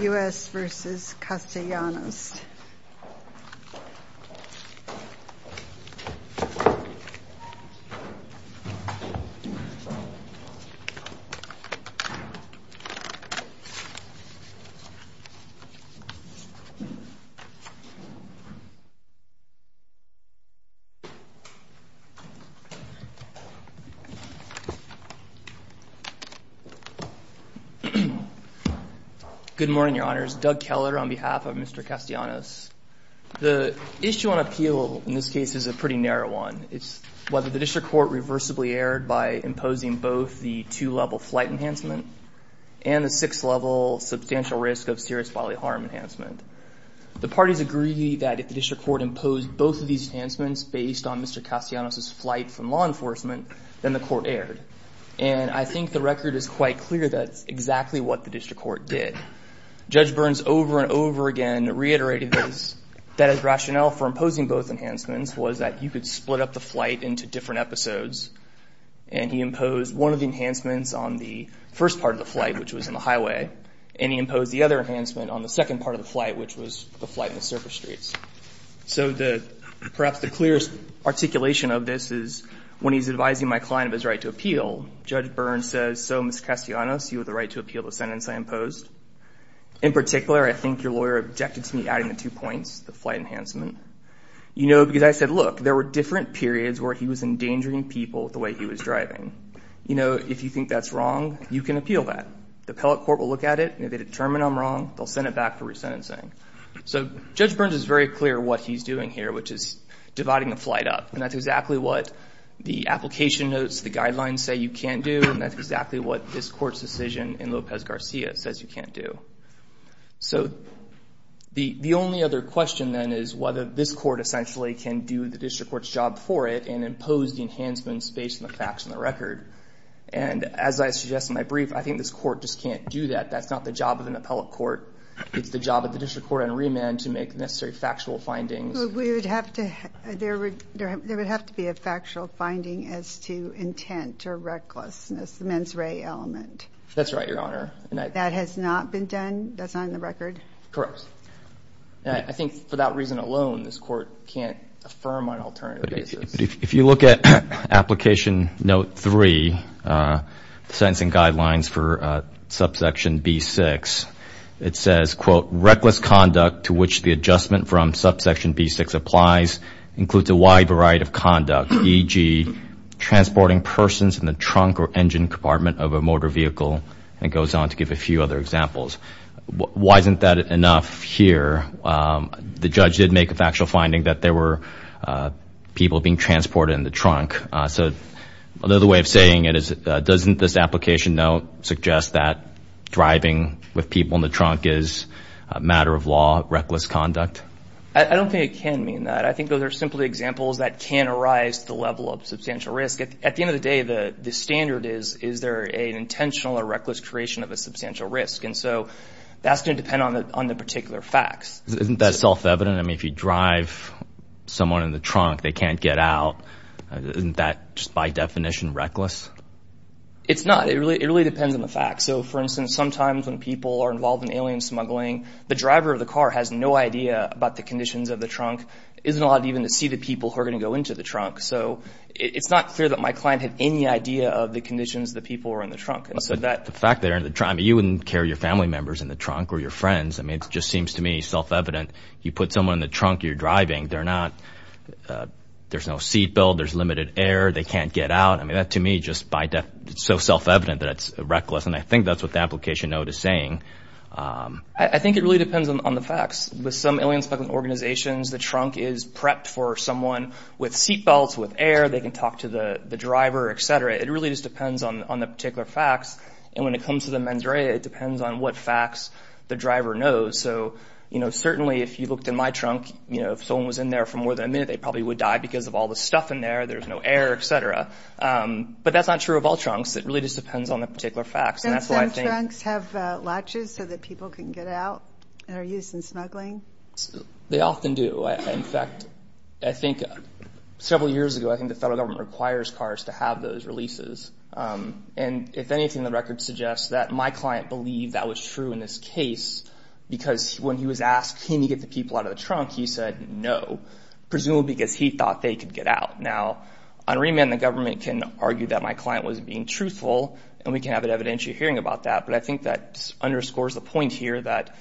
U.S. v. Castellanos. Good morning, Your Honors. Doug Keller on behalf of Mr. Castellanos. The issue on appeal in this case is a pretty narrow one. It's whether the district court reversibly erred by imposing both the two-level flight enhancement and the six-level substantial risk of serious bodily harm enhancement. The parties agree that if the district court imposed both of these enhancements based on Mr. Castellanos' flight from law enforcement, then the court erred. And I think the record is quite clear that's exactly what the district court did. Judge Burns, over and over again, reiterated that his rationale for imposing both enhancements was that you could split up the flight into different episodes. And he imposed one of the enhancements on the first part of the flight, which was in the highway. And he imposed the other enhancement on the second part of the flight, which was the flight in the surface streets. So perhaps the clearest articulation of this is when he's advising my client of his right to appeal, Judge Burns says, so, Mr. Castellanos, you have the right to appeal the sentence I imposed. In particular, I think your lawyer objected to me adding the two points, the flight enhancement. You know, because I said, look, there were different periods where he was endangering people with the way he was driving. You know, if you think that's wrong, you can appeal that. The appellate court will look at it. And if they determine I'm wrong, they'll send it back for resentencing. So Judge Burns is very clear what he's doing here, which is dividing the flight up. And that's exactly what the application notes, the guidelines say you can't do. And that's exactly what this court's decision in Lopez Garcia says you can't do. So the only other question, then, is whether this court essentially can do the district court's job for it and impose the enhancement space and the facts and the record. And as I suggest in my brief, I think this court just can't do that. That's not the job of an appellate court. It's the job of the district court and remand to make necessary factual findings. We would have to, there would have to be a factual finding as to intent or recklessness, the mens rea element. That's right, Your Honor. That has not been done? That's not in the record? Correct. I think for that reason alone, this court can't affirm on alternative basis. If you look at application note three, sentencing guidelines for subsection B6, it says, quote, reckless conduct to which the adjustment from subsection B6 applies includes a wide variety of conduct, e.g. transporting persons in the trunk or engine compartment of a motor vehicle, and goes on to give a few other examples. Why isn't that enough here? The judge did make a factual finding that there were people being transported in the trunk. So another way of saying it is, doesn't this application note suggest that driving with people in the trunk is a matter of law, reckless conduct? I don't think it can mean that. I think those are simply examples that can arise to the level of substantial risk. At the end of the day, the standard is, is there an intentional or reckless creation of a substantial risk? And so that's going to depend on the particular facts. Isn't that self-evident? I mean, if you drive someone in the trunk, they can't get out. Isn't that just by definition reckless? It's not. It really depends on the facts. So for instance, sometimes when people are involved in alien smuggling, the driver of the car has no idea about the conditions of the trunk, isn't allowed even to see the people who are going to go into the trunk. So it's not clear that my client had any idea of the conditions the people were in the trunk. And so that's the fact that they're in the trunk. You wouldn't carry your family members in the trunk or your friends. I mean, it just seems to me self-evident. You put someone in the trunk, you're driving. There's no seat belt. There's limited air. They can't get out. I mean, that to me, just by definition, it's so self-evident that it's reckless. And I think that's what the application note is saying. I think it really depends on the facts. With some alien smuggling organizations, the trunk is prepped for someone with seat belts, with air. They can talk to the driver, et cetera. It really just depends on the particular facts. And when it comes to the mens rea, it depends on what facts the driver knows. So, you know, certainly if you looked in my trunk, you know, if someone was in there for more than a minute, they probably would die because of all the stuff in there. There's no air, et cetera. But that's not true of all trunks. It really just depends on the particular facts. And that's why I think- Don't some trunks have latches so that people can get out and are used in smuggling? They often do. In fact, I think several years ago, I think the federal government requires cars to have those releases. And if anything, the record suggests that my client believed that was true in this case because when he was asked, can you get the people out of the trunk? He said, no, presumably because he thought they could get out. Now, on remand, the government can argue that my client was being truthful and we can have an evidentiary hearing about that. But I think that underscores the point here that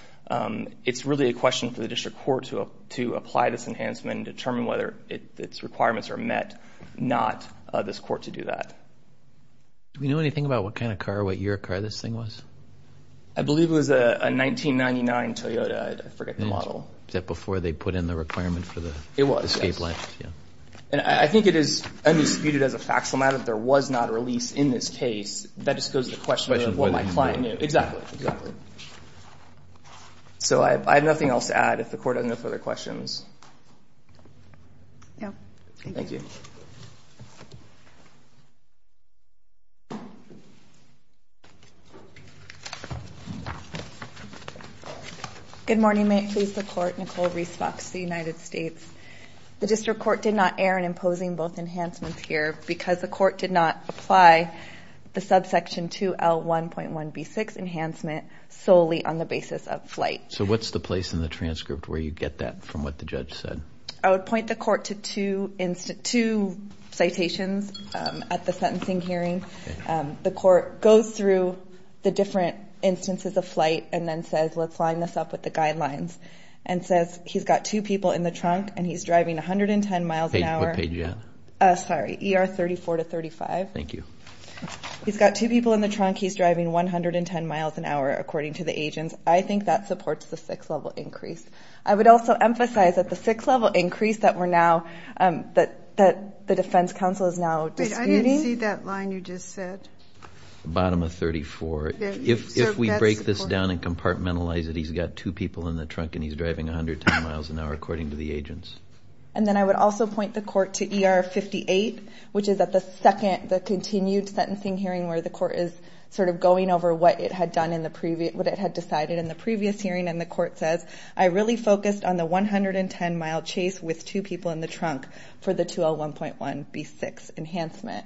it's really a question for the district court to apply this enhancement and determine whether its requirements are met, not this court to do that. Do we know anything about what kind of car, what year car this thing was? I believe it was a 1999 Toyota, I forget the model. Is that before they put in the requirement for the escape line? It was, yes. And I think it is undisputed as a fact, so now that there was not a release in this case, that just goes to the question of what my client knew. Exactly, exactly. So I have nothing else to add if the court has no further questions. No. Thank you. Good morning, may it please the court. Nicole Reese Fox, the United States. The district court did not err in imposing both enhancements here because the court did not apply the subsection 2L1.1B6 enhancement solely on the basis of flight. So what's the place in the transcript where you get that from what the judge said? I would point the court to two citations at the sentencing hearing. The court goes through the different instances of flight and then says, let's line this up with the guidelines, and says he's got two people in the trunk and he's driving 110 miles an hour. What page are you at? Sorry, ER 34 to 35. Thank you. He's got two people in the trunk, he's driving 110 miles an hour, according to the agents. I think that supports the six-level increase. I would also emphasize that the six-level increase that we're now, that the defense counsel is now disputing. Wait, I didn't see that line you just said. Bottom of 34. If we break this down and compartmentalize it, he's got two people in the trunk and he's driving 110 miles an hour, according to the agents. And then I would also point the court to ER 58, which is at the second, the continued sentencing hearing where the court is sort of going over what it had decided in the previous hearing. And the court says, I really focused on the 110-mile chase with two people in the trunk for the 2L1.1B6 enhancement.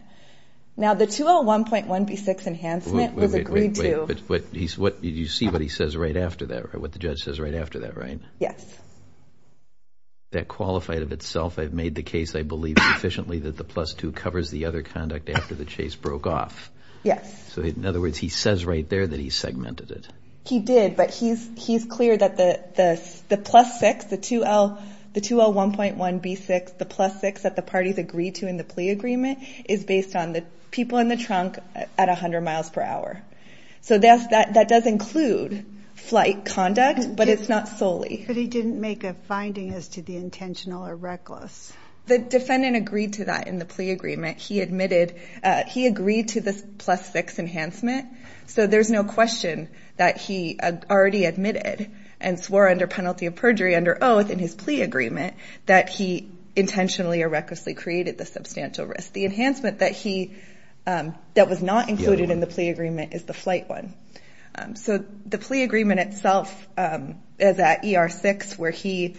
Now, the 2L1.1B6 enhancement was agreed to. Wait, did you see what he says right after that, what the judge says right after that, right? Yes. That qualified of itself, I've made the case, I believe sufficiently that the plus two Yes. So in other words, he says right there that he segmented it. He did, but he's clear that the plus six, the 2L1.1B6, the plus six that the parties agreed to in the plea agreement, is based on the people in the trunk at 100 miles per hour. So that does include flight conduct, but it's not solely. But he didn't make a finding as to the intentional or reckless. The defendant agreed to that in the plea agreement. He admitted, he agreed to this plus six enhancement. So there's no question that he already admitted and swore under penalty of perjury under oath in his plea agreement that he intentionally or recklessly created the substantial risk. The enhancement that he, that was not included in the plea agreement is the flight one. So the plea agreement itself is at ER6 where he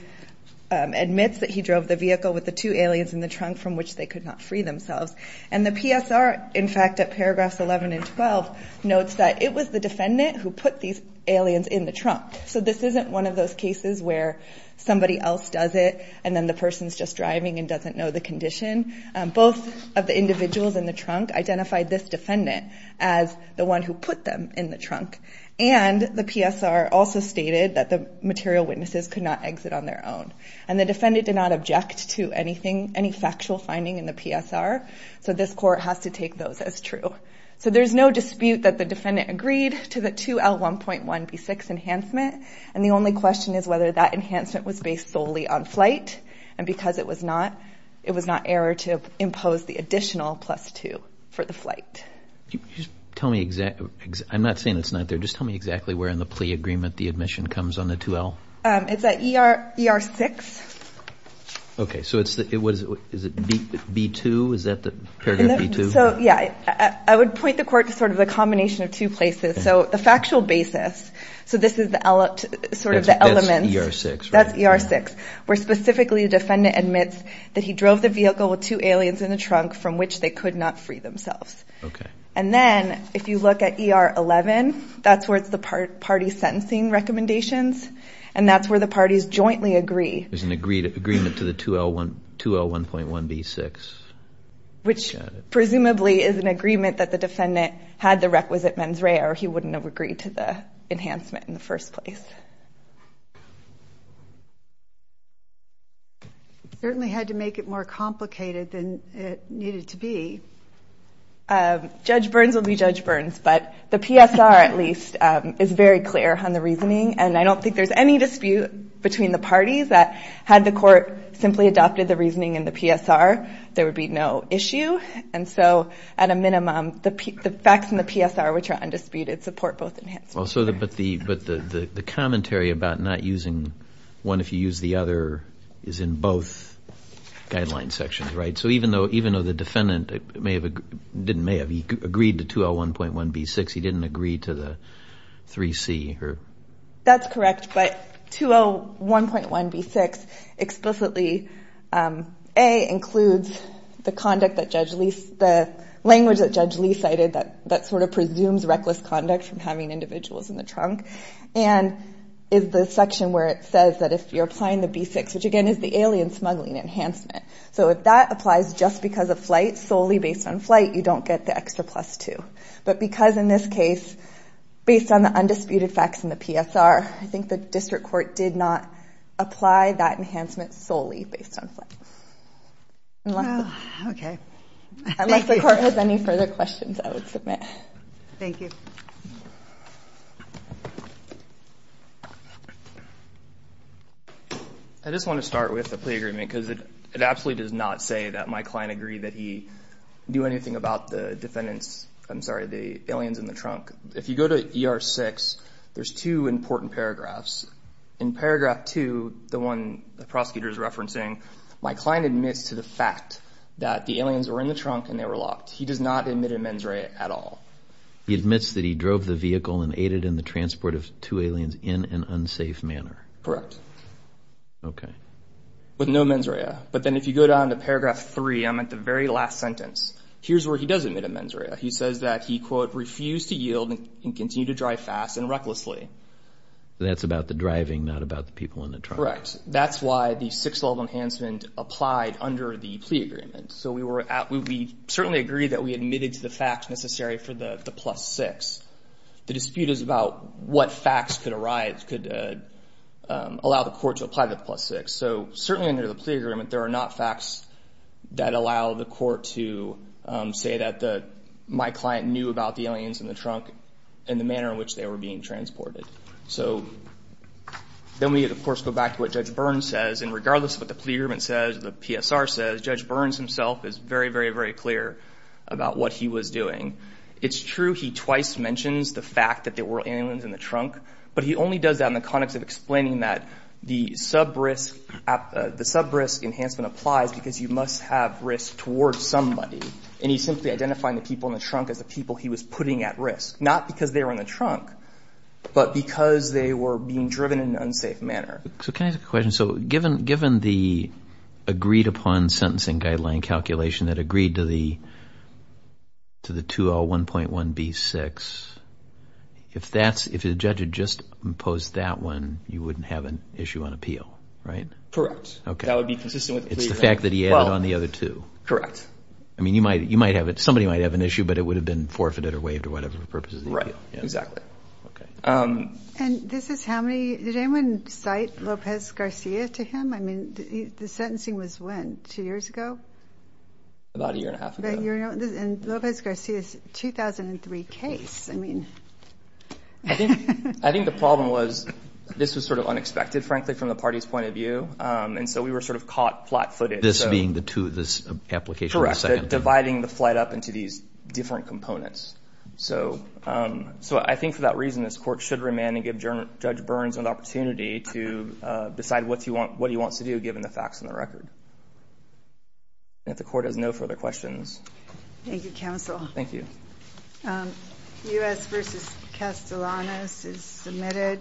admits that he drove the vehicle with the two aliens in the trunk from which they could not free themselves. And the PSR, in fact, at paragraphs 11 and 12, notes that it was the defendant who put these aliens in the trunk. So this isn't one of those cases where somebody else does it and then the person's just driving and doesn't know the condition. Both of the individuals in the trunk identified this defendant as the one who put them in the trunk. And the PSR also stated that the material witnesses could not exit on their own. And the defendant did not object to anything, any factual finding in the PSR. So this court has to take those as true. So there's no dispute that the defendant agreed to the 2L1.1B6 enhancement. And the only question is whether that enhancement was based solely on flight. And because it was not, it was not error to impose the additional plus two for the flight. You just tell me exactly, I'm not saying it's not there. Just tell me exactly where in the plea agreement the admission comes on the 2L. It's at ER6. Okay, so it's, what is it? Is it B2? Is that the paragraph B2? So yeah, I would point the court to sort of the combination of two places. So the factual basis, so this is the sort of the elements. That's ER6, right? That's ER6. Where specifically the defendant admits that he drove the vehicle with two aliens in the trunk from which they could not free themselves. And then if you look at ER11, that's where it's the party sentencing recommendations. And that's where the parties jointly agree. There's an agreement to the 2L1.1B6. Which presumably is an agreement that the defendant had the requisite mens rea or he wouldn't have agreed to the enhancement in the first place. Certainly had to make it more complicated than it needed to be. Judge Burns will be Judge Burns, but the PSR at least is very clear on the reasoning. And I don't think there's any dispute between the parties that had the court simply adopted the reasoning in the PSR, there would be no issue. And so at a minimum, the facts in the PSR which are undisputed support both enhancements. But the commentary about not using one if you use the other is in both guidelines sections, right? So even though the defendant didn't may have agreed to 2L1.1B6, he didn't agree to the 3C or? That's correct. But 2L1.1B6 explicitly A, includes the language that Judge Lee cited that sort of presumes reckless conduct from having individuals in the trunk. And is the section where it says that if you're applying the B6, which again is the alien smuggling enhancement. So if that applies just because of flight solely based on flight, you don't get the extra plus two. But because in this case, based on the undisputed facts in the PSR, I think the district court did not apply that enhancement solely based on flight. Okay. Unless the court has any further questions, I would submit. Thank you. I just want to start with a plea agreement because it absolutely does not say that my client agreed that he do anything about the defendants. I'm sorry, the aliens in the trunk. If you go to ER six, there's two important paragraphs. In paragraph two, the one the prosecutor is referencing, my client admits to the fact that the aliens were in the trunk and they were locked. He does not admit a mens rea at all. He admits that he drove the vehicle and aided in the transport of two aliens in an unsafe manner. Correct. Okay. With no mens rea. But then if you go down to paragraph three, I'm at the very last sentence. Here's where he does admit a mens rea. He says that he, quote, refused to yield and continue to drive fast and recklessly. That's about the driving, not about the people in the trunk. Correct. That's why the six level enhancement applied under the plea agreement. So we certainly agree that we admitted to the fact necessary for the plus six. The dispute is about what facts could arise, could allow the court to apply the plus six. So certainly under the plea agreement, there are not facts that allow the court to say that my client knew about the aliens in the trunk and the manner in which they were being transported. So then we of course go back to what Judge Burns says. And regardless of what the plea agreement says, the PSR says, Judge Burns himself is very, very, very clear about what he was doing. It's true he twice mentions the fact that there were aliens in the trunk, but he only does that in the context of explaining that the sub-risk enhancement applies because you must have risk towards somebody. And he's simply identifying the people in the trunk as the people he was putting at risk, not because they were in the trunk, but because they were being driven in an unsafe manner. So can I ask a question? So given the agreed upon sentencing guideline calculation that agreed to the 201.1B6, if the judge had just imposed that one, you wouldn't have an issue on appeal, right? Correct. That would be consistent with the plea agreement. Just the fact that he added on the other two. Correct. I mean, you might have it, somebody might have an issue, but it would have been forfeited or waived or whatever purposes. Right, exactly. And this is how many, did anyone cite Lopez Garcia to him? I mean, the sentencing was when, two years ago? About a year and a half ago. And Lopez Garcia's 2003 case, I mean. I think the problem was, this was sort of unexpected, frankly, from the party's point of view. And so we were sort of caught flat-footed. This being the two, this application? Correct, dividing the flight up into these different components. So I think for that reason, this court should remand and give Judge Burns an opportunity to decide what he wants to do, given the facts and the record. And if the court has no further questions. Thank you, counsel. Thank you. U.S. v. Castellanos is submitted.